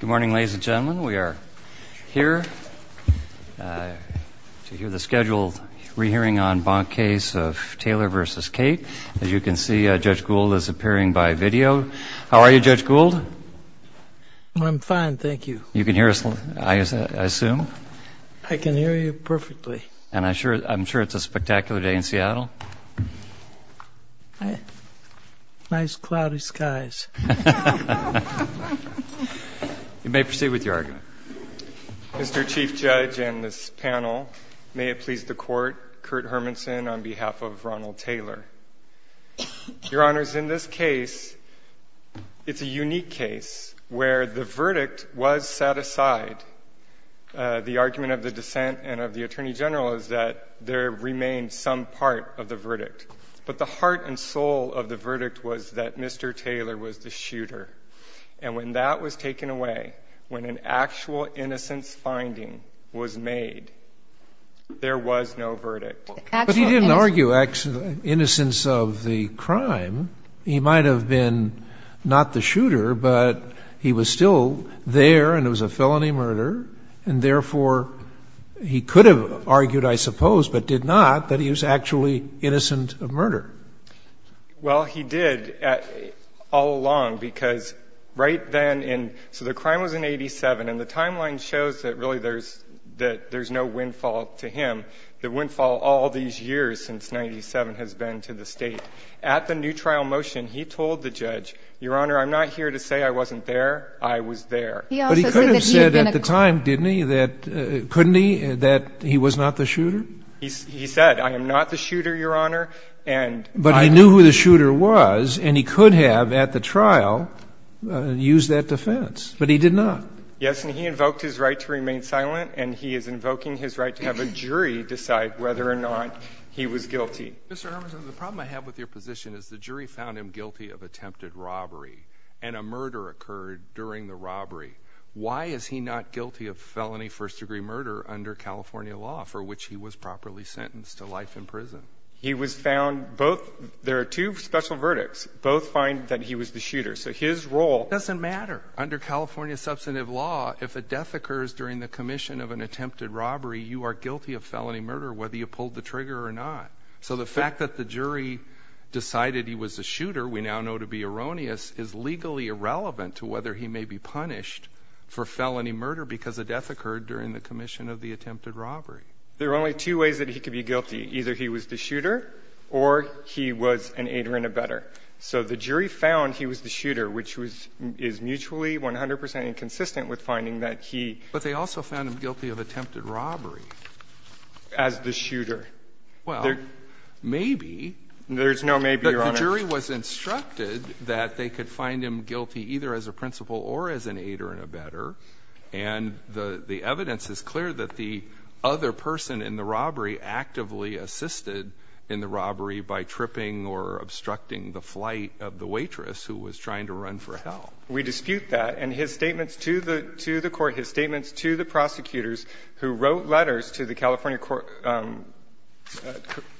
Good morning ladies and gentlemen we are here to hear the scheduled re-hearing on Bonk case of Taylor versus Cate. As you can see Judge Gould is appearing by video. How are you Judge Gould? I'm fine thank you. You can hear us I assume? I can hear you perfectly. And I'm sure it's a spectacular day in Seattle? Nice cloudy skies. You may proceed with your argument. Mr. Chief Judge and this panel, may it please the Court, Kurt Hermanson on behalf of Ronald Taylor. Your Honors, in this case it's a unique case where the verdict was set aside. The argument of the dissent and of the Attorney General is that there was no verdict. But the heart and soul of the verdict was that Mr. Taylor was the shooter. And when that was taken away, when an actual innocence finding was made, there was no verdict. But he didn't argue innocence of the crime. He might have been not the shooter but he was still there and it was a felony murder and therefore he could have argued I suppose but did not that he was actually innocent of murder. Well he did all along because right then in, so the crime was in 87 and the timeline shows that really there's no windfall to him. The windfall all these years since 97 has been to the State. At the new trial motion he told the judge, Your Honor I'm not here to say I wasn't there, I was there. But he could have said at the time, didn't he, that couldn't he, that he was not the shooter? He said I am not the shooter, Your Honor, and But he knew who the shooter was and he could have at the trial used that defense. But he did not. Yes, and he invoked his right to remain silent and he is invoking his right to have a jury decide whether or not he was guilty. Mr. Hermanson, the problem I have with your position is the jury found him guilty of attempted robbery and a murder occurred during the robbery. Why is he not guilty of felony first degree murder under California law for which he was properly sentenced to life in prison? He was found both, there are two special verdicts, both find that he was the shooter. So his role. Doesn't matter. Under California substantive law, if a death occurs during the commission of an attempted robbery, you are guilty of felony murder whether you pulled the There are only two ways that he could be guilty. Either he was the shooter or he was an aider and abetter. So the jury found he was the shooter, which was, is mutually, 100 percent inconsistent with finding that he But they also found him guilty of attempted robbery. As the shooter. Well, maybe. There's no maybe, Your Honor. The jury was instructed that they could find him guilty either as a principal or as an aider and abetter, and the evidence is clear that the other person in the robbery actively assisted in the robbery by tripping or obstructing the flight of the waitress who was trying to run for help. We dispute that, and his statements to the court, his statements to the prosecutors who wrote letters to the California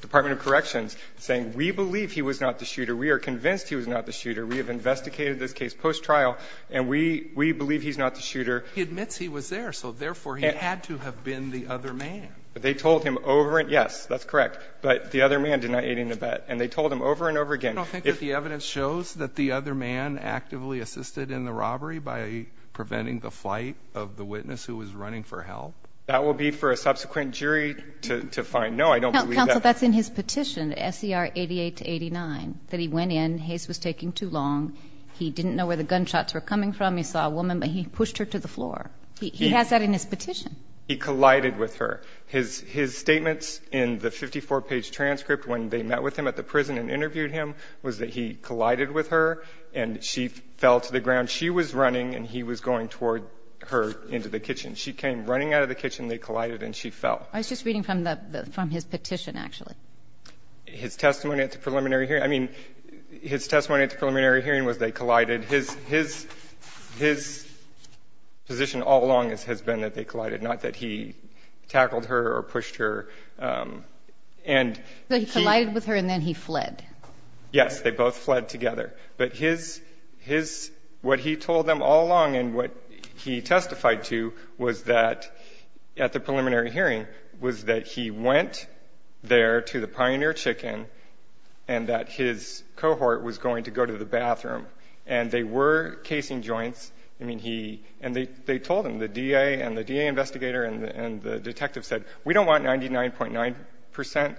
Department of Corrections saying, we believe he was not the shooter, we are convinced he was not the shooter, we have investigated this case post-trial, and we believe he's not the shooter. He admits he was there, so therefore he had to have been the other man. They told him over and over again. Yes, that's correct. But the other man denied aiding and abetting, and they told him over and over again. You don't think that the evidence shows that the other man actively assisted in the robbery by preventing the flight of the witness who was running for help? That will be for a subsequent jury to find. No, I don't believe that. Counsel, that's in his petition, S.E.R. 88 to 89, that he went in, Hayes was taking too long, he didn't know where the gunshots were coming from, he saw a woman, but he pushed her to the floor. He has that in his petition. He collided with her. His statements in the 54-page transcript when they met with him at the prison and interviewed him was that he collided with her and she fell to the ground. She was running and he was going toward her into the kitchen. She came running out of the kitchen, they collided, and she fell. I was just reading from the his petition, actually. His testimony at the preliminary hearing, I mean, his testimony at the preliminary hearing was they collided, his position all along has been that they collided, not that he tackled her or pushed her. And he collided with her and then he fled. Yes, they both fled together. But his, what he told them all along and what he testified to was that at the preliminary hearing was that he went there to the Pioneer Chicken and that his cohort was going to go to the bathroom. And they were casing joints. I mean, he, and they told him, the DA and the DA investigator and the detective said, we don't want 99.9%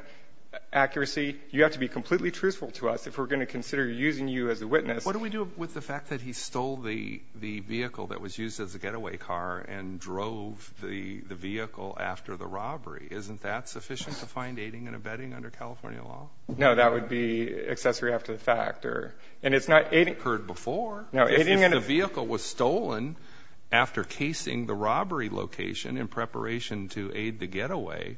accuracy. You have to be completely truthful to us if we're going to consider using you as a witness. What do we do with the fact that he stole the vehicle that was used as a getaway car and drove the vehicle after the robbery? Isn't that sufficient to find aiding and abetting under California law? No, that would be accessory after the fact or, and it's not aiding. I've heard before. No, aiding and abetting. If the vehicle was stolen after casing the robbery location in preparation to aid the getaway,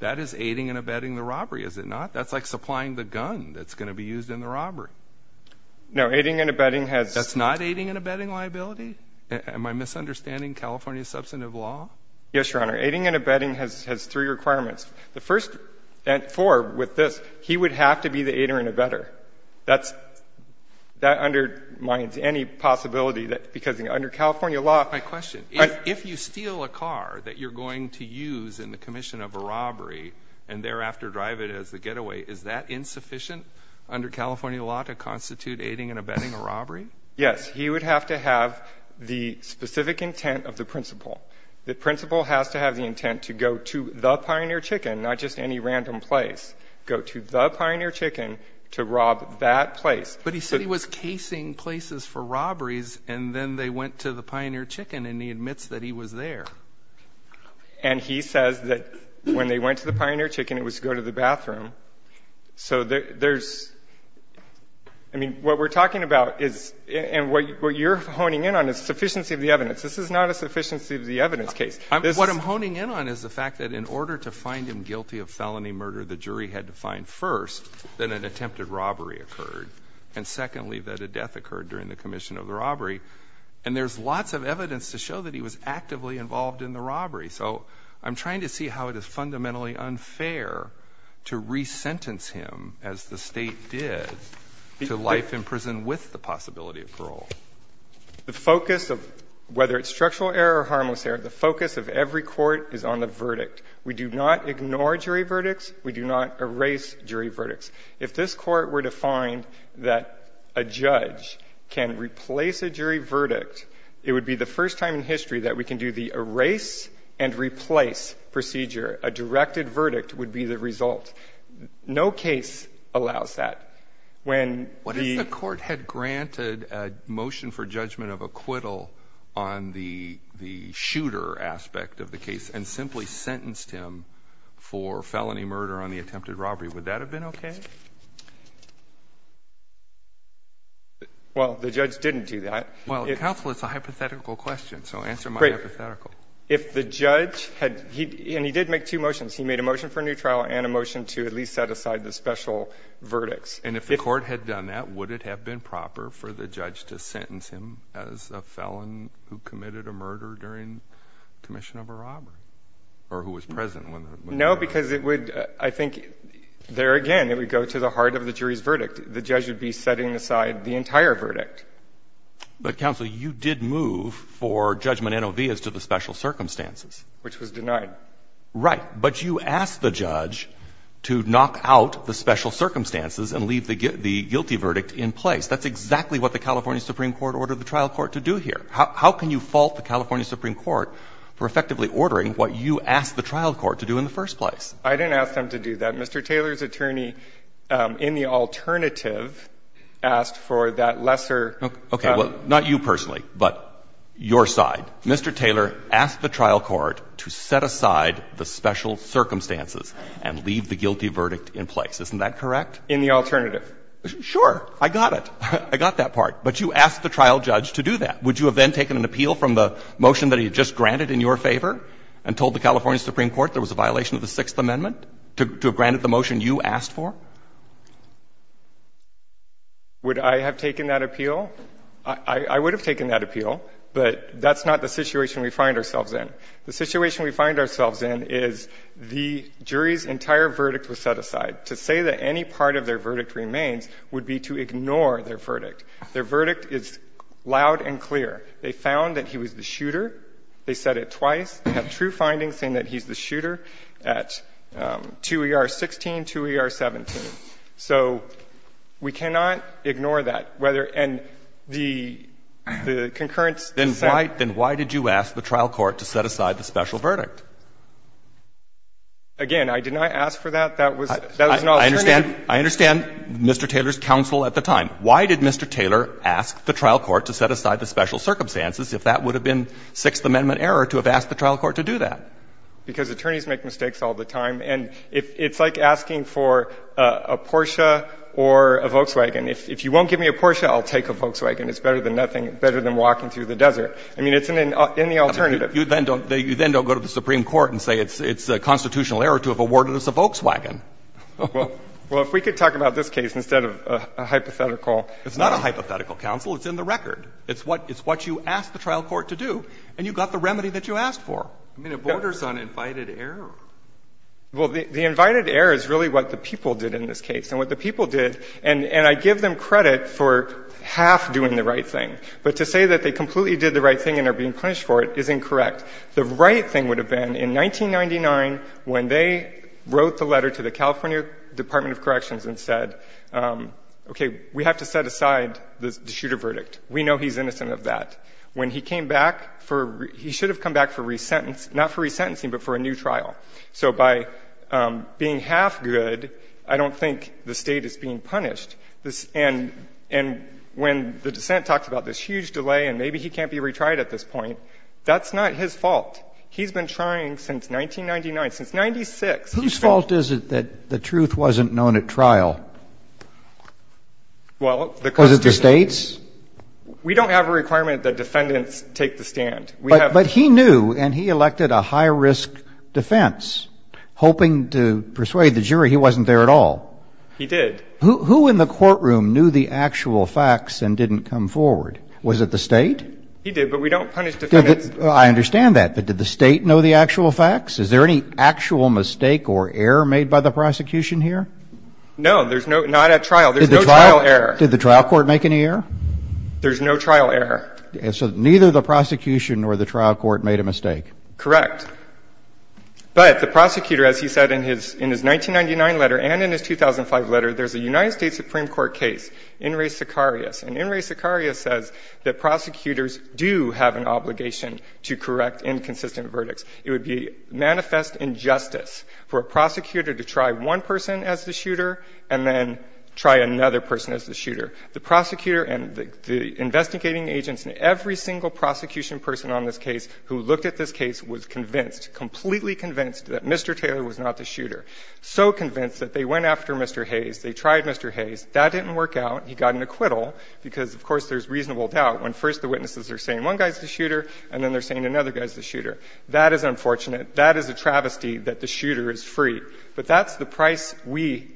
that is aiding and abetting the robbery, is it not? That's like supplying the gun that's going to be used in the robbery. No, aiding and abetting has. That's not aiding and abetting liability? Am I misunderstanding California substantive law? Yes, Your Honor. Aiding and abetting has three requirements. The first and four with this, he would have to be the aider and abetter. That's, that undermines any possibility that, because under California law. My question, if you steal a car that you're going to use in the commission of a robbery and thereafter drive it as a getaway, is that insufficient under California law to constitute aiding and abetting a robbery? Yes. He would have to have the specific intent of the principal. The principal has to have the intent to go to the Pioneer Chicken, not just any random place, go to the Pioneer Chicken to rob that place. But he said he was casing places for robberies, and then they went to the Pioneer Chicken, and he admits that he was there. And he says that when they went to the Pioneer Chicken, it was to go to the bathroom. So there's, I mean, what we're talking about is, and what you're honing in on is sufficiency of the evidence. This is not a sufficiency of the evidence case. This is What I'm honing in on is the fact that in order to find him guilty of felony murder, the jury had to find, first, that an attempted robbery occurred, and secondly, that a death occurred during the commission of the robbery. And there's lots of evidence to show that he was actively involved in the robbery. So I'm trying to see how it is fundamentally unfair to re-sentence him, as the State did, to life in prison with the possibility of parole. The focus of, whether it's structural error or harmless error, the focus of every court is on the verdict. We do not ignore jury verdicts. We do not erase jury verdicts. If this court were to find that a judge can replace a jury verdict, it would be the first time in history that we can do the erase and replace procedure. A directed verdict would be the result. No case allows that. When the If the court had granted a motion for judgment of acquittal on the shooter aspect of the case and simply sentenced him for felony murder on the attempted robbery, would that have been okay? Well, the judge didn't do that. Well, counsel, it's a hypothetical question, so answer my hypothetical. If the judge had, and he did make two motions. He made a motion for a new trial and a motion to at least set aside the special verdicts. And if the court had done that, would it have been proper for the judge to sentence him as a felon who committed a murder during commission of a robbery? Or who was present when? No, because it would, I think, there again, it would go to the heart of the jury's verdict. The judge would be setting aside the entire verdict. But counsel, you did move for judgment NOV as to the special circumstances. Which was denied. Right. But you asked the judge to knock out the special circumstances and leave the guilty verdict in place. That's exactly what the California Supreme Court ordered the trial court to do here. How can you fault the California Supreme Court for effectively ordering what you asked the trial court to do in the first place? I didn't ask them to do that. Mr. Taylor's attorney in the alternative asked for that lesser. Okay. Well, not you personally, but your side. Mr. Taylor asked the trial court to set aside the special circumstances and leave the guilty verdict in place. Isn't that correct? In the alternative. Sure. I got it. I got that part. But you asked the trial judge to do that. Would you have then taken an appeal from the motion that he had just granted in your favor and told the California Supreme Court there was a violation of the Sixth Amendment to have granted the motion you asked for? Would I have taken that appeal? I would have taken that appeal, but that's not the situation we find ourselves in. The situation we find ourselves in is the jury's entire verdict was set aside. To say that any part of their verdict remains would be to ignore their verdict. Their verdict is loud and clear. They found that he was the shooter. They said it twice. They have true findings saying that he's the shooter at 2ER16, 2ER17. So we cannot ignore that. And the concurrence is that the jury's entire verdict was set aside. Then why did you ask the trial court to set aside the special verdict? Again, I did not ask for that. That was not your name. I understand Mr. Taylor's counsel at the time. Why did Mr. Taylor ask the trial court to set aside the special circumstances if that would have been Sixth Amendment error to have asked the trial court to do that? Because attorneys make mistakes all the time. And it's like asking for a Porsche or a Volkswagen. If you won't give me a Porsche, I'll take a Volkswagen. It's better than nothing, better than walking through the desert. I mean, it's in the alternative. You then don't go to the Supreme Court and say it's a constitutional error to have awarded us a Volkswagen. Well, if we could talk about this case instead of a hypothetical. It's not a hypothetical, counsel. It's in the record. It's what you asked the trial court to do. And you got the remedy that you asked for. I mean, it borders on invited error. Well, the invited error is really what the people did in this case. And what the people did, and I give them credit for half doing the right thing. But to say that they completely did the right thing and are being punished for it is incorrect. The right thing would have been in 1999 when they wrote the letter to the California Department of Corrections and said, okay, we have to set aside the shooter verdict. We know he's innocent of that. When he came back for he should have come back for resentence, not for resentencing, but for a new trial. So by being half good, I don't think the State is being punished. And when the dissent talks about this huge delay and maybe he can't be retried at this point, that's not his fault. He's been trying since 1999, since 1996. Whose fault is it that the truth wasn't known at trial? Well, because the State's? We don't have a requirement that defendants take the stand. But he knew and he elected a high risk defense, hoping to persuade the jury he wasn't there at all. He did. Who in the courtroom knew the actual facts and didn't come forward? Was it the State? He did, but we don't punish defendants. I understand that. But did the State know the actual facts? Is there any actual mistake or error made by the prosecution here? No, there's not at trial. There's no trial error. Did the trial court make any error? There's no trial error. So neither the prosecution nor the trial court made a mistake? Correct. But the prosecutor, as he said in his 1999 letter and in his 2005 letter, there's a United States Supreme Court case, In re Sicarius. And in re Sicarius says that prosecutors do have an obligation to correct inconsistent verdicts. It would be manifest injustice for a prosecutor to try one person as the shooter and then try another person as the shooter. The prosecutor and the investigating agents and every single prosecution person on this case who looked at this case was convinced, completely convinced, that Mr. Taylor was not the shooter, so convinced that they went after Mr. Hayes, they tried Mr. Hayes. That didn't work out. He got an acquittal because, of course, there's reasonable doubt when first the witnesses are saying one guy's the shooter and then they're saying another guy's the shooter. That is unfortunate. That is a travesty that the shooter is free. But that's the price we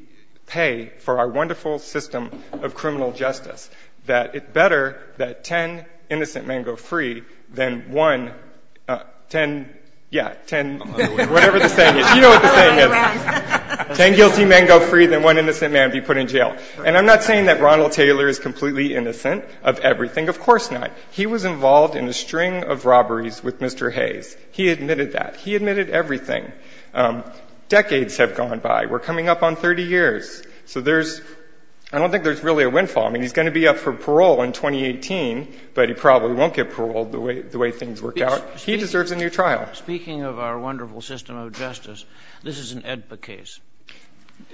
pay for our wonderful system of criminal justice, that it's better that ten innocent men go free than one 10 yeah, 10 whatever the saying is. You know what the saying is. Ten guilty men go free than one innocent man be put in jail. And I'm not saying that Ronald Taylor is completely innocent of everything. Of course not. He was involved in a string of robberies with Mr. Hayes. He admitted that. He admitted everything. Decades have gone by. We're coming up on 30 years. So there's – I don't think there's really a windfall. I mean, he's going to be up for parole in 2018, but he probably won't get paroled the way things worked out. He deserves a new trial. Speaking of our wonderful system of justice, this is an AEDPA case.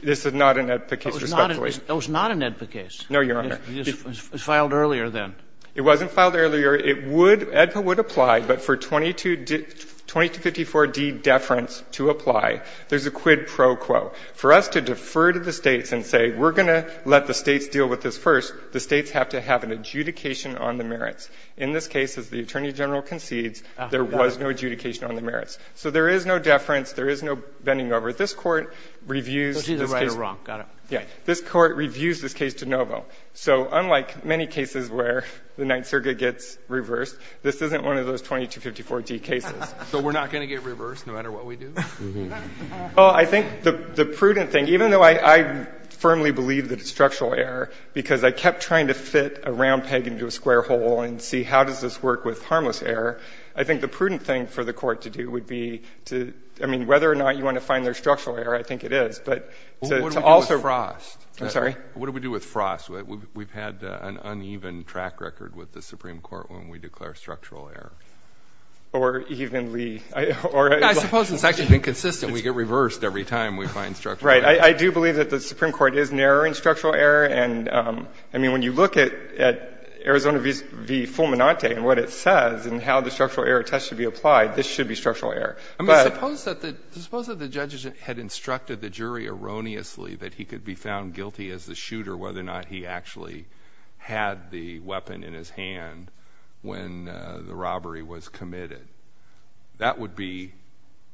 This is not an AEDPA case, respectfully. It was not an AEDPA case. No, Your Honor. It was filed earlier then. It wasn't filed earlier. It would – AEDPA would apply, but for 2254d deference to apply, there's a quid pro quo. For us to defer to the States and say we're going to let the States deal with this first, the States have to have an adjudication on the merits. In this case, as the Attorney General concedes, there was no adjudication on the merits. So there is no deference. There is no bending over. This Court reviews this case. This Court reviews this case de novo. So unlike many cases where the Ninth Circuit gets reversed, this isn't one of those 2254d cases. So we're not going to get reversed no matter what we do? Well, I think the prudent thing – even though I firmly believe that it's structural error because I kept trying to fit a round peg into a square hole and see how does this work with harmless error, I think the prudent thing for the Court to do would be to – I mean, whether or not you want to find there's structural error, I think it is. But to also – What do we do with Frost? I'm sorry? What do we do with Frost? We've had an uneven track record with the Supreme Court when we declare structural error. Or evenly – I suppose it's actually been consistent. We get reversed every time we find structural error. Right. I do believe that the Supreme Court is narrowing structural error. And, I mean, when you look at Arizona v. Fulminante and what it says and how the structural error test should be applied, this should be structural error. I mean, suppose that the judges had instructed the jury erroneously that he could be found guilty as the shooter whether or not he actually had the weapon in his hand when the robbery was committed. That would be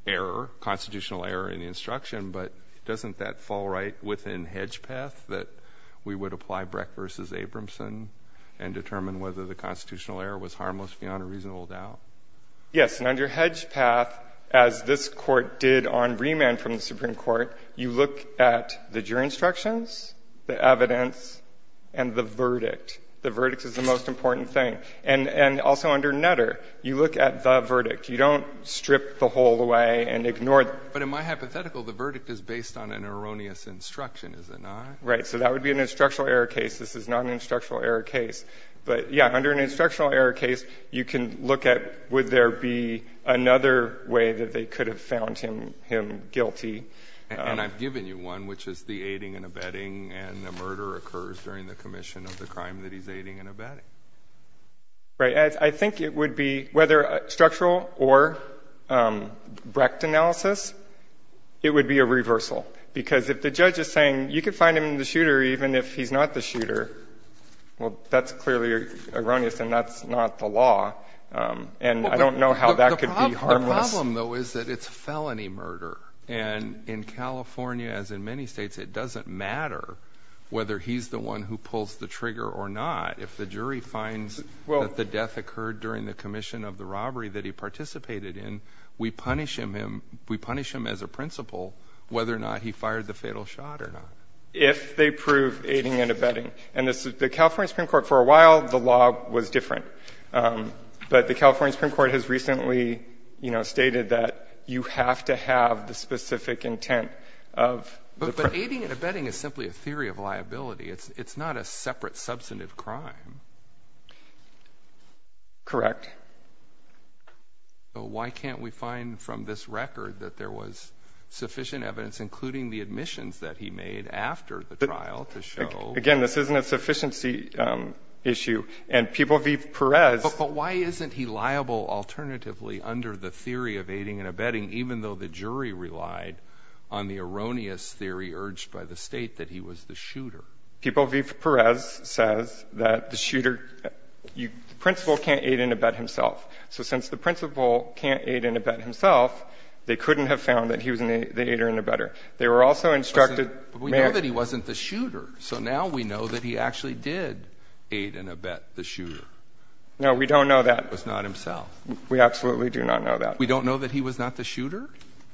error, constitutional error in the instruction. But doesn't that fall right within Hedge Path that we would apply Breck v. Abramson and determine whether the constitutional error was harmless beyond a reasonable doubt? Yes. And under Hedge Path, as this Court did on remand from the Supreme Court, you look at the jury instructions, the evidence, and the verdict. The verdict is the most important thing. And also under Nutter, you look at the verdict. You don't strip the whole away and ignore – But in my hypothetical, the verdict is based on an erroneous instruction, is it not? Right. So that would be an instructional error case. This is not an instructional error case. But yeah, under an instructional error case, you can look at would there be another way that they could have found him guilty. And I've given you one, which is the aiding and abetting, and the murder occurs during the commission of the crime that he's aiding and abetting. Right. I think it would be, whether structural or Brecht analysis, it would be a reversal. Because if the judge is saying, you could find him the shooter even if he's not the shooter, well, that's clearly erroneous and that's not the law. And I don't know how that could be harmless. The problem, though, is that it's felony murder. And in California, as in many states, it doesn't matter whether he's the one who pulls the trigger or not. If the jury finds that the death occurred during the commission of the robbery that he participated in, we punish him as a principal whether or not he fired the fatal shot or not. If they prove aiding and abetting. And the California Supreme Court, for a while, the law was different. But the California Supreme Court has recently, you know, stated that you have to have the specific intent of the crime. But aiding and abetting is simply a theory of liability. It's not a separate substantive crime. Correct. So why can't we find from this record that there was sufficient evidence, including the admissions that he made after the trial, to show. Again, this isn't a sufficiency issue. And People v. Perez. But why isn't he liable alternatively under the theory of aiding and abetting, even though the jury relied on the erroneous theory urged by the state that he was the shooter? People v. Perez says that the shooter, the principal can't aid and abet himself. So since the principal can't aid and abet himself, they couldn't have found that he was the aider and abetter. They were also instructed. But we know that he wasn't the shooter. So now we know that he actually did aid and abet the shooter. No, we don't know that. Was not himself. We absolutely do not know that. We don't know that he was not the shooter?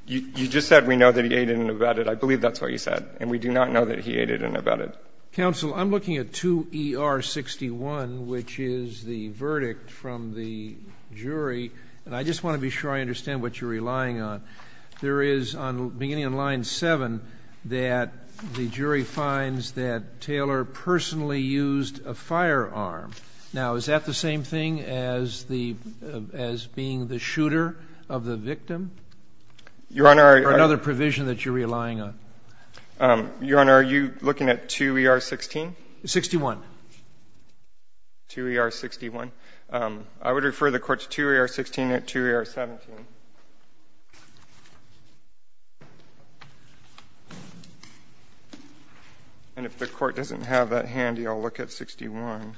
You just said we know that he aided and abetted. I believe that's what you said. And we do not know that he aided and abetted. Counsel, I'm looking at 2E-R61, which is the verdict from the jury. And I just want to be sure I understand what you're relying on. There is, beginning on line 7, that the jury finds that Taylor personally used a firearm. Now, is that the same thing as the as being the shooter of the victim? Your Honor, I or another provision that you're relying on? Your Honor, are you looking at 2E-R16? 61. 2E-R61. I would refer the Court to 2E-R16 and 2E-R17. And if the Court doesn't have that handy, I'll look at 61.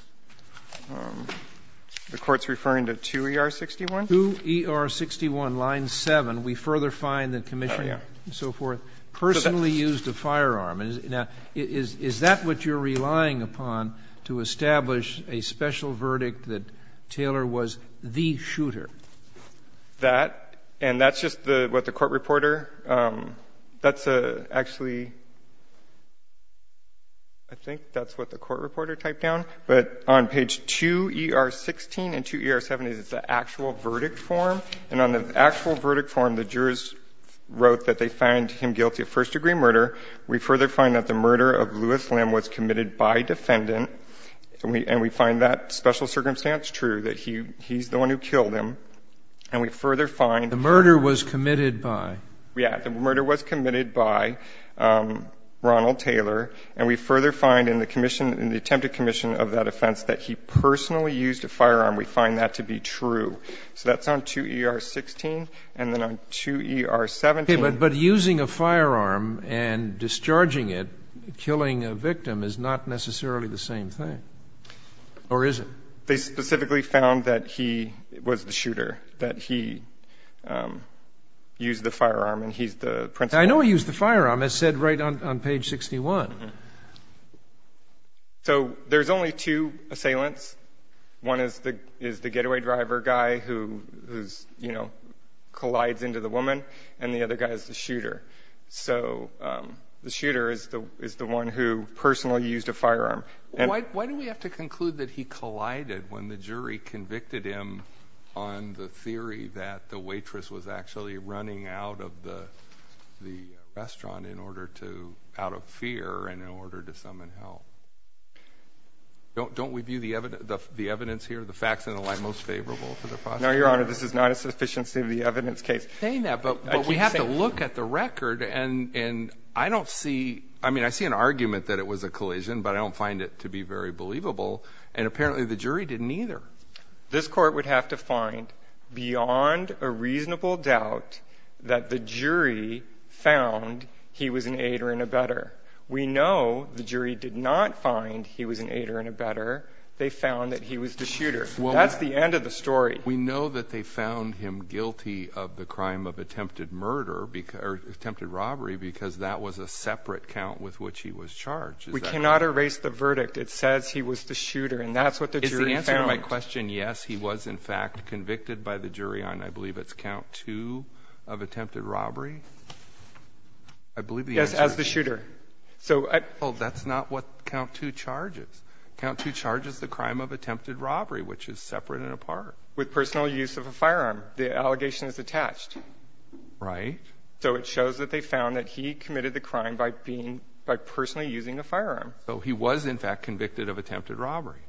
The Court's referring to 2E-R61? 2E-R61, line 7. We further find that the commission and so forth personally used a firearm. Now, is that what you're relying upon to establish a special verdict that Taylor was the shooter? That, and that's just what the court reporter, that's actually, I think that's what the court reporter typed down. But on page 2E-R16 and 2E-R17 is the actual verdict form. And on the actual verdict form, the jurors wrote that they find him guilty of first-degree murder. We further find that the murder of Lewis Lim was committed by defendant. And we find that special circumstance true, that he's the one who killed him. And we further find that the murder was committed by? Yeah. The murder was committed by Ronald Taylor. And we further find in the commission, in the attempted commission of that offense, that he personally used a firearm. We find that to be true. So that's on 2E-R16. And then on 2E-R17. Okay, but using a firearm and discharging it, killing a victim, is not necessarily the same thing, or is it? They specifically found that he was the shooter, that he used the firearm and he's the principal. I know he used the firearm, it's said right on page 61. So there's only two assailants. One is the getaway driver guy who collides into the woman, and the other guy is the shooter. So the shooter is the one who personally used a firearm. Why do we have to conclude that he collided when the jury convicted him on the theory that the waitress was actually running out of the restaurant out of fear and in order to summon help? Don't we view the evidence here, the facts in the line most favorable for the prosecution? No, Your Honor, this is not a sufficiency of the evidence case. I'm saying that, but we have to look at the record, and I don't see, I mean, I see an argument that it was a collision, but I don't find it to be very believable, and apparently the jury didn't either. This court would have to find, beyond a reasonable doubt, that the jury found he was an aider and abetter. We know the jury did not find he was an aider and abetter. They found that he was the shooter. That's the end of the story. We know that they found him guilty of the crime of attempted murder, or attempted robbery, because that was a separate count with which he was charged. We cannot erase the verdict. It says he was the shooter, and that's what the jury found. Is the answer to my question yes, he was in fact convicted by the jury on, I believe it's count two, of attempted robbery? I believe the answer is yes. Yes, as the shooter. Oh, that's not what count two charges. Count two charges the crime of attempted robbery, which is separate and apart. With personal use of a firearm. The allegation is attached. Right. So it shows that they found that he committed the crime by being, by personally using a firearm. So he was in fact convicted of attempted robbery.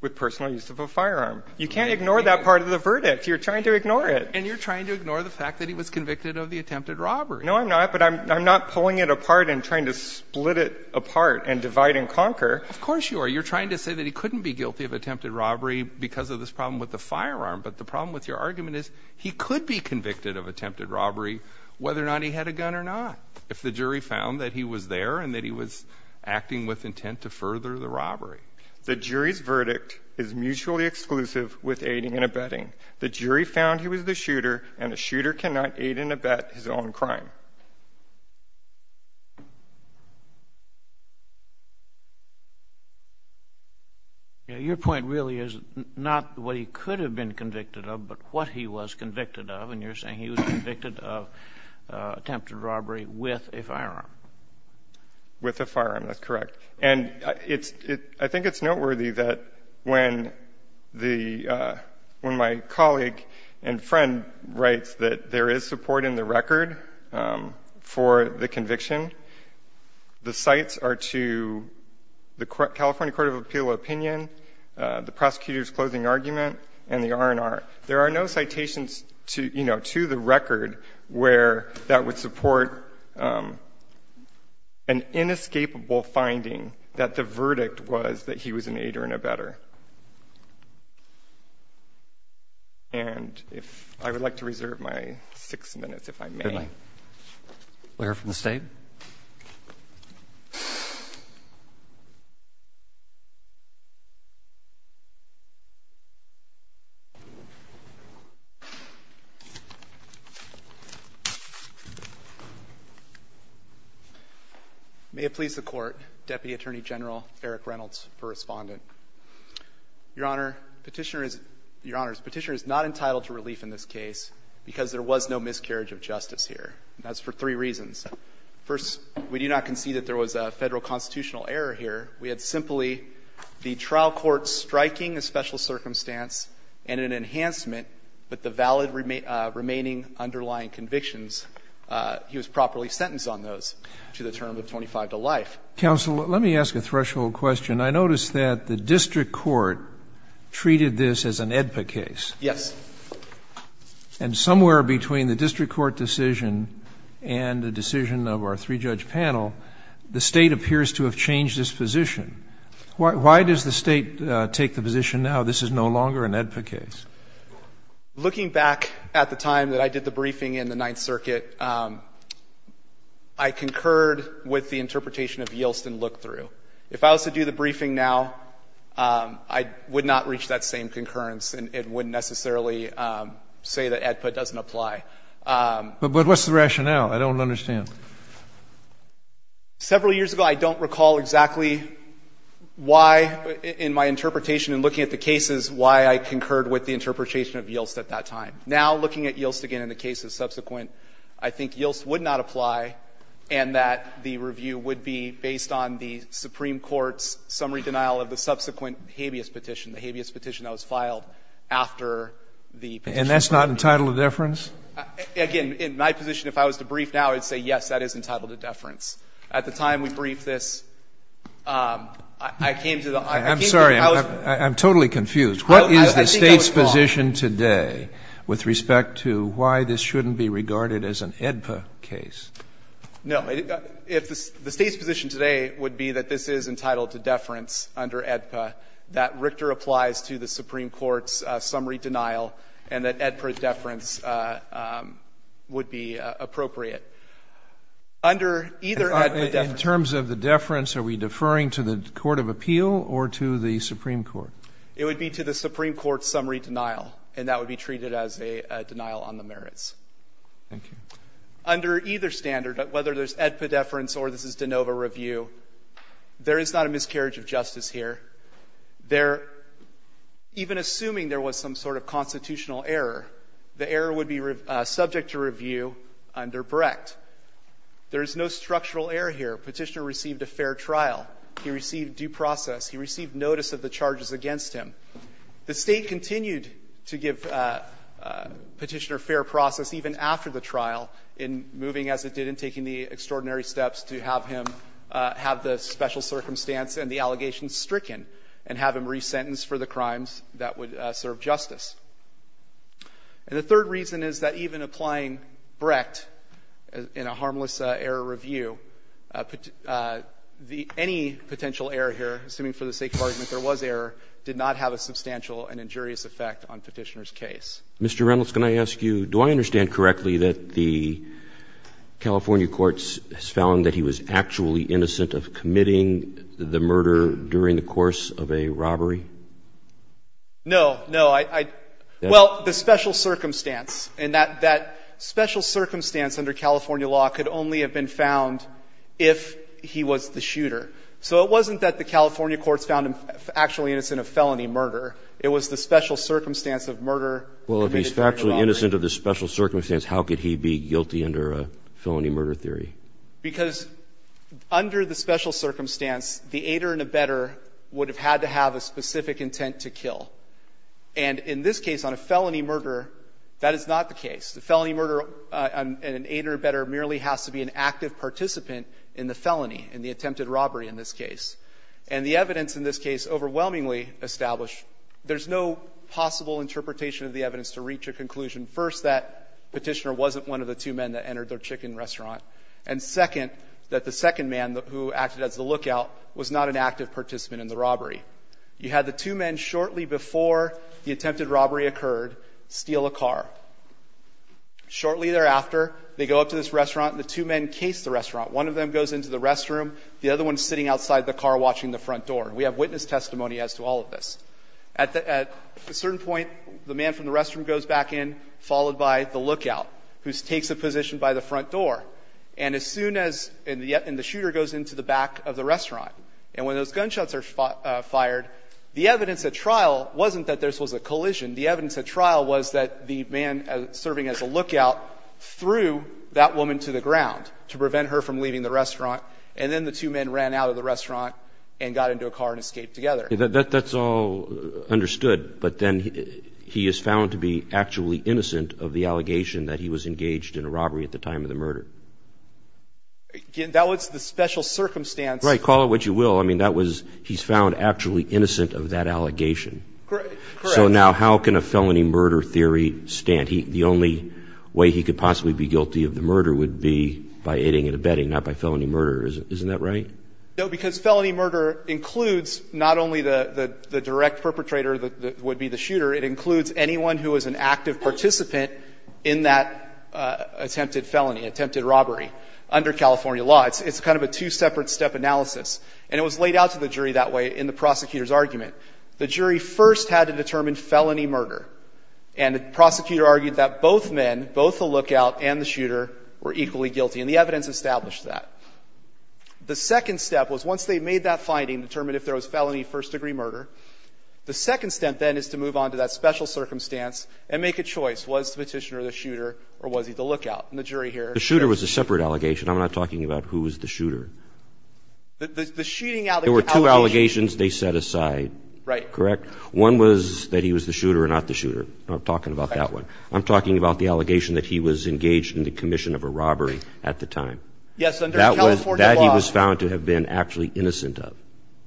With personal use of a firearm. You can't ignore that part of the verdict. You're trying to ignore it. And you're trying to ignore the fact that he was convicted of the attempted robbery. No, I'm not. But I'm not pulling it apart and trying to split it apart and divide and conquer. Of course you are. You're trying to say that he couldn't be guilty of attempted robbery because of this problem with the firearm. But the problem with your argument is he could be convicted of attempted robbery, whether or not he had a gun or not, if the jury found that he was there and that he was acting with intent to further the robbery. The jury's verdict is mutually exclusive with aiding and abetting. The jury found he was the shooter and a shooter cannot aid and abet his own crime. Your point really is not what he could have been convicted of, but what he was convicted of. And you're saying he was convicted of attempted robbery with a firearm. With a firearm. That's correct. And I think it's noteworthy that when my colleague and friend writes that there is support in the record for the conviction, the cites are to the California Court of Appeal opinion, the prosecutor's closing argument, and the R&R. There are no citations to the record where that would support an inescapable finding that the verdict was that he was an aider and abetter. And I would like to reserve my six minutes, if I may. Good night. We'll hear from the state. May it please the court, Deputy Attorney General Eric Reynolds for Respondent. Your Honor, Petitioner is not entitled to relief in this case because there was no miscarriage of justice here. That's for three reasons. First, we do not concede that there was a federal constitutional error here. We had simply the trial court striking a special circumstance and an enhancement, but the valid remaining underlying convictions, he was properly sentenced on those to the term of 25 to life. Counsel, let me ask a threshold question. I noticed that the district court treated this as an AEDPA case. Yes. And somewhere between the district court decision and the decision of our three-judge panel, the state appears to have changed its position. Why does the state take the position now this is no longer an AEDPA case? Looking back at the time that I did the briefing in the Ninth Circuit, I concurred with the interpretation of Yeltsin look-through. If I was to do the briefing now, I would not reach that same concurrence and wouldn't necessarily say that AEDPA doesn't apply. But what's the rationale? I don't understand. Several years ago, I don't recall exactly why in my interpretation and looking at the cases why I concurred with the interpretation of Yeltsin at that time. Now, looking at Yeltsin again in the cases subsequent, I think Yeltsin would not apply and that the review would be based on the Supreme Court's summary denial of the subsequent habeas petition, the habeas petition that was filed after the petition was submitted. And that's not entitled to deference? Again, in my position, if I was to brief now, I would say, yes, that is entitled to deference. At the time we briefed this, I came to the idea that I was going to say that it's I think that was wrong. I'm sorry. I'm totally confused. What is the State's position today with respect to why this shouldn't be regarded as an AEDPA case? No. The State's position today would be that this is entitled to deference under AEDPA, that Richter applies to the Supreme Court's summary denial, and that AEDPA deference would be appropriate. Under either AEDPA deference In terms of the deference, are we deferring to the court of appeal or to the Supreme Court? It would be to the Supreme Court's summary denial, and that would be treated as a denial on the merits. Thank you. Under either standard, whether there's AEDPA deference or this is de novo review, there is not a miscarriage of justice here. There, even assuming there was some sort of constitutional error, the error would be subject to review under Brecht. There is no structural error here. Petitioner received a fair trial. He received due process. He received notice of the charges against him. The State continued to give Petitioner fair process even after the trial in moving as it did in taking the extraordinary steps to have him have the special circumstance and the allegations stricken and have him resentenced for the crimes that would serve justice. And the third reason is that even applying Brecht in a harmless error review, any potential error here, assuming for the sake of argument there was error, did not have a substantial and injurious effect on Petitioner's case. Mr. Reynolds, can I ask you, do I understand correctly that the California courts found that he was actually innocent of committing the murder during the course of a robbery? No. No. I — well, the special circumstance. And that special circumstance under California law could only have been found if he was the shooter. So it wasn't that the California courts found him actually innocent of felony murder. It was the special circumstance of murder. Well, if he's actually innocent of the special circumstance, how could he be guilty under a felony murder theory? Because under the special circumstance, the aider and abetter would have had to have a specific intent to kill. And in this case, on a felony murder, that is not the case. The felony murder and an aider and abetter merely has to be an active participant in the felony, in the attempted robbery in this case. And the evidence in this case overwhelmingly established there's no possible interpretation of the evidence to reach a conclusion, first, that Petitioner wasn't one of the two men that entered their chicken restaurant, and second, that the second man who acted as the lookout was not an active participant in the robbery. You had the two men shortly before the attempted robbery occurred steal a car. Shortly thereafter, they go up to this restaurant, and the two men case the restaurant. One of them goes into the restroom. The other one's sitting outside the car watching the front door. We have witness testimony as to all of this. At a certain point, the man from the restroom goes back in, followed by the lookout, who takes a position by the front door. And as soon as the shooter goes into the back of the restaurant, and when those gunshots are fired, the evidence at trial wasn't that this was a collision. The evidence at trial was that the man serving as a lookout threw that woman to the ground to prevent her from leaving the restaurant. And then the two men ran out of the restaurant and got into a car and escaped together. Roberts. That's all understood. But then he is found to be actually innocent of the allegation that he was engaged in a robbery at the time of the murder. That was the special circumstance. Right. Call it what you will. He's found actually innocent of that allegation. Correct. So now how can a felony murder theory stand? The only way he could possibly be guilty of the murder would be by aiding and abetting, not by felony murder. Isn't that right? No. Because felony murder includes not only the direct perpetrator that would be the shooter, it includes anyone who is an active participant in that attempted felony, attempted robbery under California law. It's kind of a two-separate-step analysis. And it was laid out to the jury that way in the prosecutor's argument. The jury first had to determine felony murder. And the prosecutor argued that both men, both the lookout and the shooter, were equally guilty. And the evidence established that. The second step was once they made that finding, determined if there was felony first-degree murder, the second step then is to move on to that special circumstance and make a choice. Was the Petitioner the shooter or was he the lookout? And the jury here — The shooter was a separate allegation. I'm not talking about who was the shooter. The shooting — There were two allegations they set aside. Right. Correct? One was that he was the shooter or not the shooter. I'm not talking about that one. I'm talking about the allegation that he was engaged in the commission of a robbery at the time. Yes, under California law — That he was found to have been actually innocent of.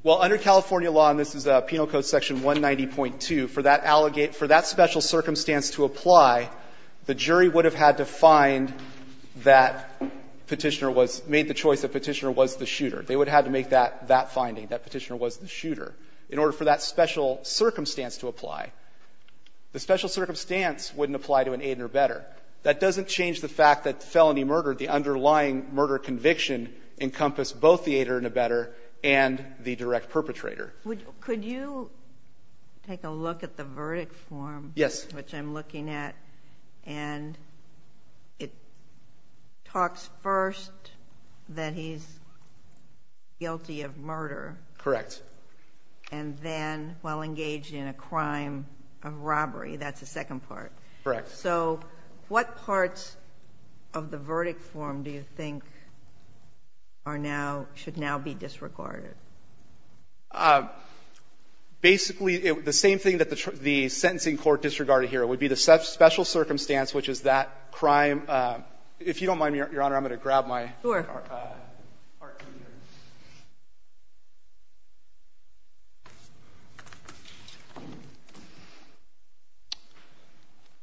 Well, under California law, and this is Penal Code section 190.2, for that special circumstance to apply, the jury would have had to find that Petitioner was — made the choice that Petitioner was the shooter. They would have had to make that finding, that Petitioner was the shooter, in order for that special circumstance to apply. The special circumstance wouldn't apply to an aid or better. That doesn't change the fact that felony murder, the underlying murder conviction, encompass both the aid or the better and the direct perpetrator. Would — could you take a look at the verdict form — Yes. — which I'm looking at, and it talks first that he's guilty of murder. Correct. And then, well, engaged in a crime of robbery. That's the second part. Correct. So what parts of the verdict form do you think are now — should now be disregarded? Basically, the same thing that the sentencing court disregarded here would be the special circumstance, which is that crime — if you don't mind, Your Honor, I'm going to grab my — Sure.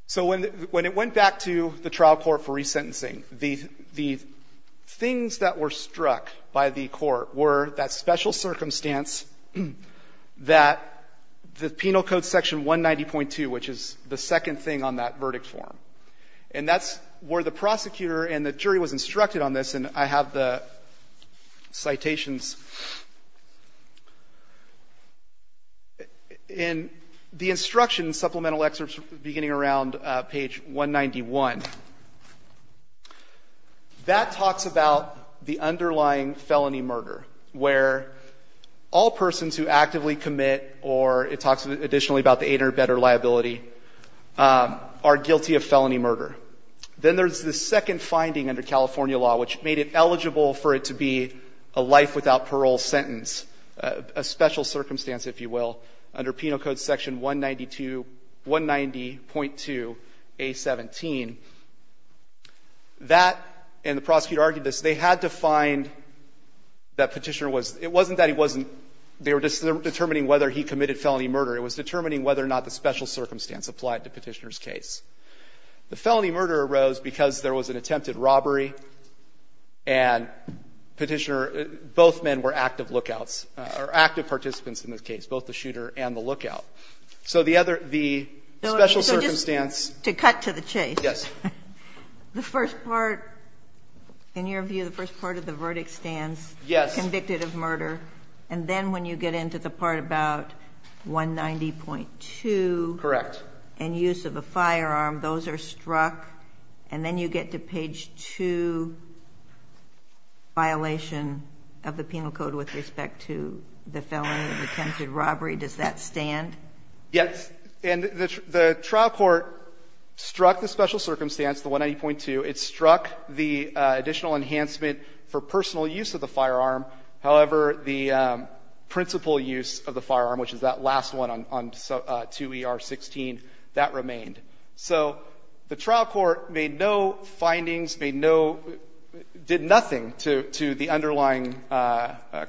So when it went back to the trial court for re-sentencing, the things that were struck by the court were that special circumstance, that the Penal Code section 190.2, which is the second thing on that verdict form. And that's where the prosecutor and the jury was instructed on this. And I have the citations. In the instructions, supplemental excerpts beginning around page 191, that talks about the underlying felony murder, where all persons who actively commit — or it talks additionally about the 800-bedder liability — are guilty of felony murder. Then there's the second finding under California law, which made it eligible for it to be a life without parole sentence, a special circumstance, if you will, under Penal Code section 192 — 190.2A17. That — and the prosecutor argued this. They had to find that Petitioner was — it wasn't that he wasn't — they were just determining whether he committed felony murder. It was determining whether or not the special circumstance applied to Petitioner's case. The felony murder arose because there was an attempted robbery, and Petitioner — both men were active lookouts, or active participants in this case, both the shooter and the lookout. So the other — the special circumstance — So just to cut to the chase. Yes. The first part — in your view, the first part of the verdict stands — Yes. — convicted of murder. And then when you get into the part about 190.2 — Correct. — and use of a firearm, those are struck, and then you get to page 2, violation of the Penal Code with respect to the felony of attempted robbery. Does that stand? Yes. And the trial court struck the special circumstance, the 190.2. It struck the additional enhancement for personal use of the firearm. However, the principal use of the firearm, which is that last one on 2E-R-16, that remained. So the trial court made no findings, made no — did nothing to the underlying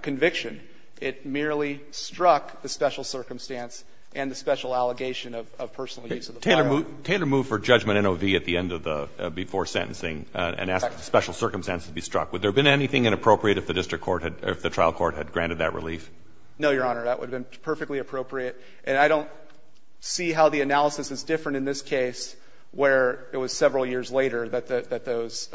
conviction. It merely struck the special circumstance and the special allegation of personal use of the firearm. Taylor moved for judgment in O.V. at the end of the — before sentencing and asked the special circumstance to be struck. Would there have been anything inappropriate if the district court had — or if the trial court had granted that relief? No, Your Honor. That would have been perfectly appropriate. And I don't see how the analysis is different in this case, where it was several years later that those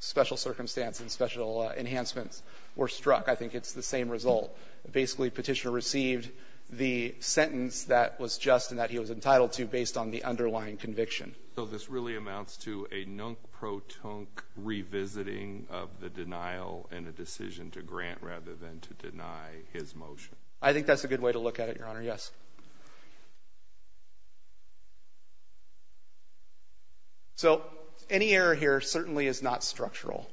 special circumstance and special enhancements were struck. I think it's the same result. Basically, Petitioner received the sentence that was just and that he was entitled to based on the underlying conviction. So this really amounts to a nunk-pro-tunk revisiting of the denial and a decision to grant rather than to deny his motion? I think that's a good way to look at it, Your Honor. Yes. So any error here certainly is not structural.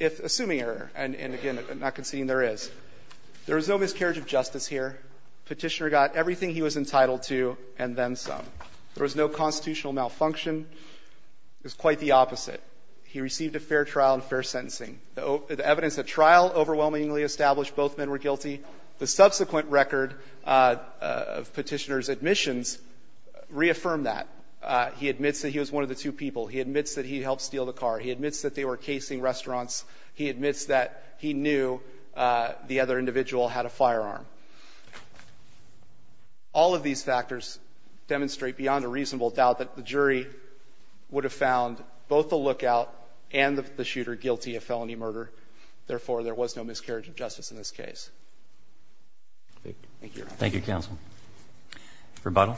If — assuming error, and again, not conceding there is. There was no miscarriage of justice here. Petitioner got everything he was entitled to and then some. There was no constitutional malfunction. It was quite the opposite. He received a fair trial and fair sentencing. The evidence at trial overwhelmingly established both men were guilty. The subsequent record of Petitioner's admissions reaffirmed that. He admits that he was one of the two people. He admits that he helped steal the car. He admits that they were casing restaurants. He admits that he knew the other individual had a firearm. All of these factors demonstrate beyond a reasonable doubt that the jury would have found both the lookout and the shooter guilty of felony murder. Therefore, there was no miscarriage of justice in this case. Thank you, Your Honor. Thank you, counsel. Rebuttal.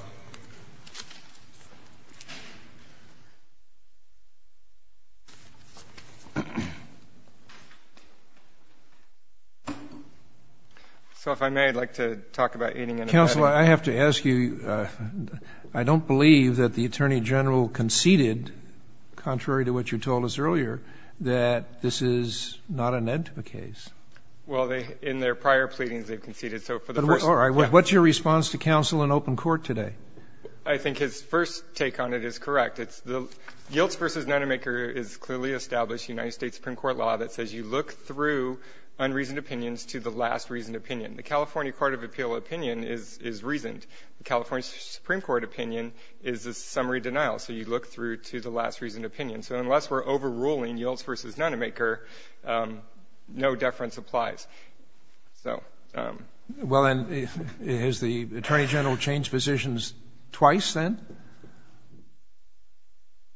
So if I may, I'd like to talk about aiding and abetting. Counsel, I have to ask you, I don't believe that the Attorney General conceded, contrary to what you told us earlier, that this is not an ed to the case. Well, in their prior pleadings, they've conceded. So for the first— All right. What's your response to counsel in open court today? I think his first take on it is correct. Yields v. Nonemaker is clearly established United States Supreme Court law that says you look through unreasoned opinions to the last reasoned opinion. The California Court of Appeal opinion is reasoned. The California Supreme Court opinion is a summary denial. So you look through to the last reasoned opinion. So unless we're overruling Yields v. Nonemaker, no deference applies. So— Well, and has the Attorney General changed positions twice then?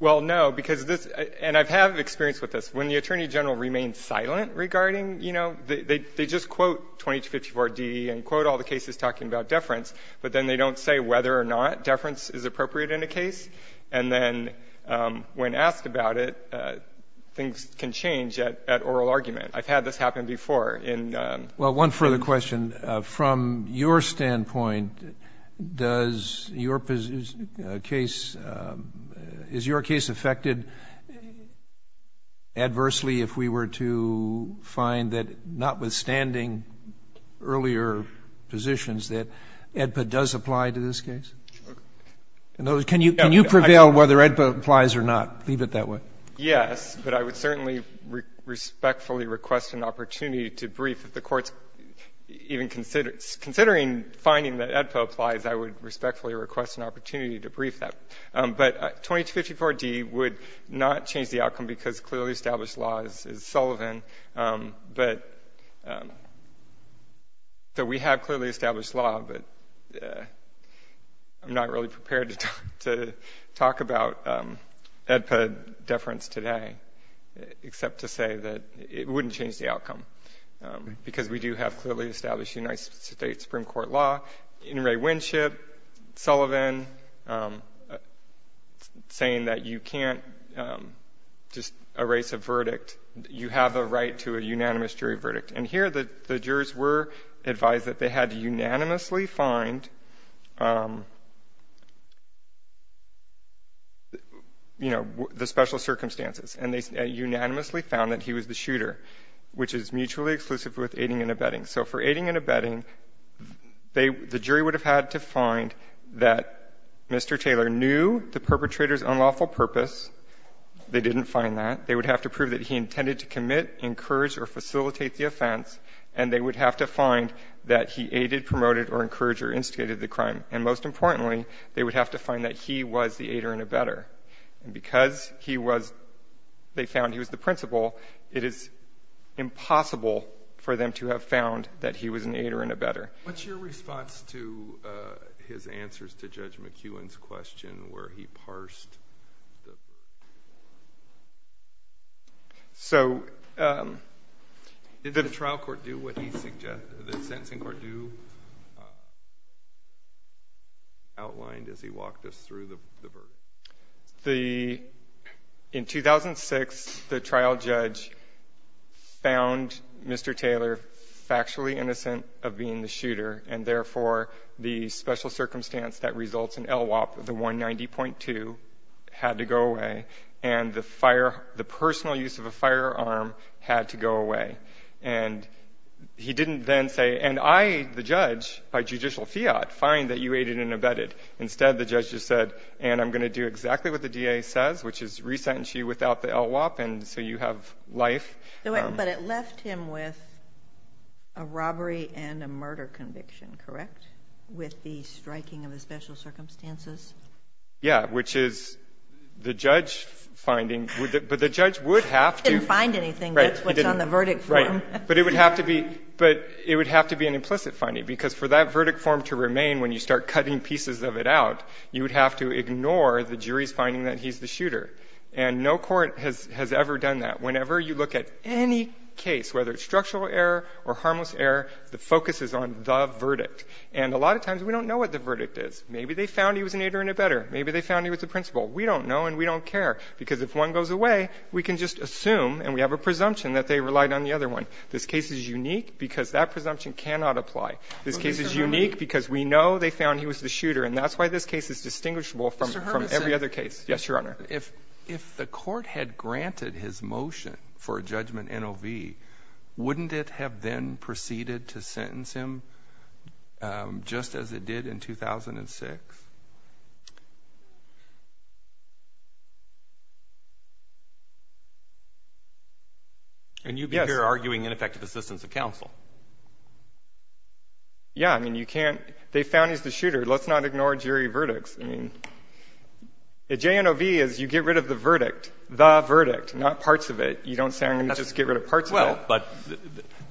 Well, no, because this—and I have experience with this. When the Attorney General remains silent regarding, you know, they just quote 2254d and quote all the cases talking about deference, but then they don't say whether or not deference is appropriate in a case. And then when asked about it, things can change at oral argument. I've had this happen before in— Is your case affected adversely if we were to find that, notwithstanding earlier positions, that AEDPA does apply to this case? In other words, can you prevail whether AEDPA applies or not? Leave it that way. Yes. But I would certainly respectfully request an opportunity to brief. If the Court's even considering finding that AEDPA applies, I would respectfully request an opportunity to brief that. But 2254d would not change the outcome because clearly established law is Sullivan. But—so we have clearly established law, but I'm not really prepared to talk about AEDPA deference today, except to say that it wouldn't change the outcome, because we do have clearly established United States Supreme Court law. In Ray Winship, Sullivan, saying that you can't just erase a verdict. You have a right to a unanimous jury verdict. And here the jurors were advised that they had to unanimously find, you know, the special circumstances. And they unanimously found that he was the shooter, which is mutually exclusive with aiding and abetting. So for aiding and abetting, they — the jury would have had to find that Mr. Taylor knew the perpetrator's unlawful purpose. They didn't find that. They would have to prove that he intended to commit, encourage, or facilitate the offense. And they would have to find that he aided, promoted, or encouraged or instigated the crime. And most importantly, they would have to find that he was the aider and abetter. And because he was — they found he was the principal, it is impossible for them to have found that he was an aider and abetter. What's your response to his answers to Judge McEwen's question where he parsed? So did the trial court do what he — the sentencing court do outlined as he walked us through the verdict? The — in 2006, the trial judge found Mr. Taylor factually innocent of being the shooter, and therefore the special circumstance that results in LWOP, the 190.2, had to go away. And the fire — the personal use of a firearm had to go away. And he didn't then say, and I, the judge, by judicial fiat, find that you aided and abetted. Instead, the judge just said, and I'm going to do exactly what the DA says, which is re-sentence you without the LWOP, and so you have life. But it left him with a robbery and a murder conviction, correct, with the striking of the special circumstances? Yeah, which is the judge finding — but the judge would have to — He didn't find anything, that's what's on the verdict form. Right. But it would have to be — but it would have to be an implicit finding, because for that you would have to ignore the jury's finding that he's the shooter. And no court has ever done that. Whenever you look at any case, whether it's structural error or harmless error, the focus is on the verdict. And a lot of times we don't know what the verdict is. Maybe they found he was an aider and abetter. Maybe they found he was the principal. We don't know and we don't care, because if one goes away, we can just assume, and we have a presumption that they relied on the other one. This case is unique because that presumption cannot apply. This case is unique because we know they found he was the shooter, and that's why this case is distinguishable from every other case. Yes, Your Honor. If the court had granted his motion for a judgment NOV, wouldn't it have then proceeded to sentence him just as it did in 2006? And you'd be here arguing ineffective assistance of counsel. Yeah, I mean, you can't — they found he's the shooter. Let's not ignore jury verdicts. I mean, a JNOV is you get rid of the verdict, the verdict, not parts of it. You don't say, I'm going to just get rid of parts of it. Well, but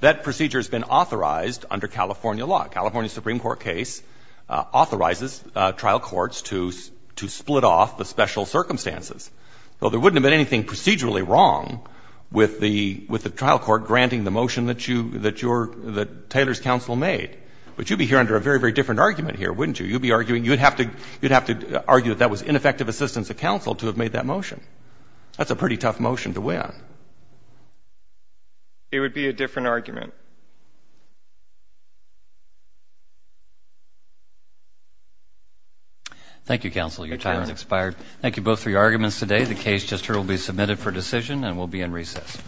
that procedure has been authorized under California law. A California Supreme Court case authorizes trial courts to split off the special circumstances. So there wouldn't have been anything procedurally wrong with the trial court granting the motion that Taylor's counsel made. But you'd be here under a very, very different argument here, wouldn't you? You'd be arguing — you'd have to argue that that was ineffective assistance of counsel to have made that motion. That's a pretty tough motion to win. It would be a different argument. Thank you, counsel. Your time has expired. Thank you both for your arguments today. The case just heard will be submitted for decision and will be in recess.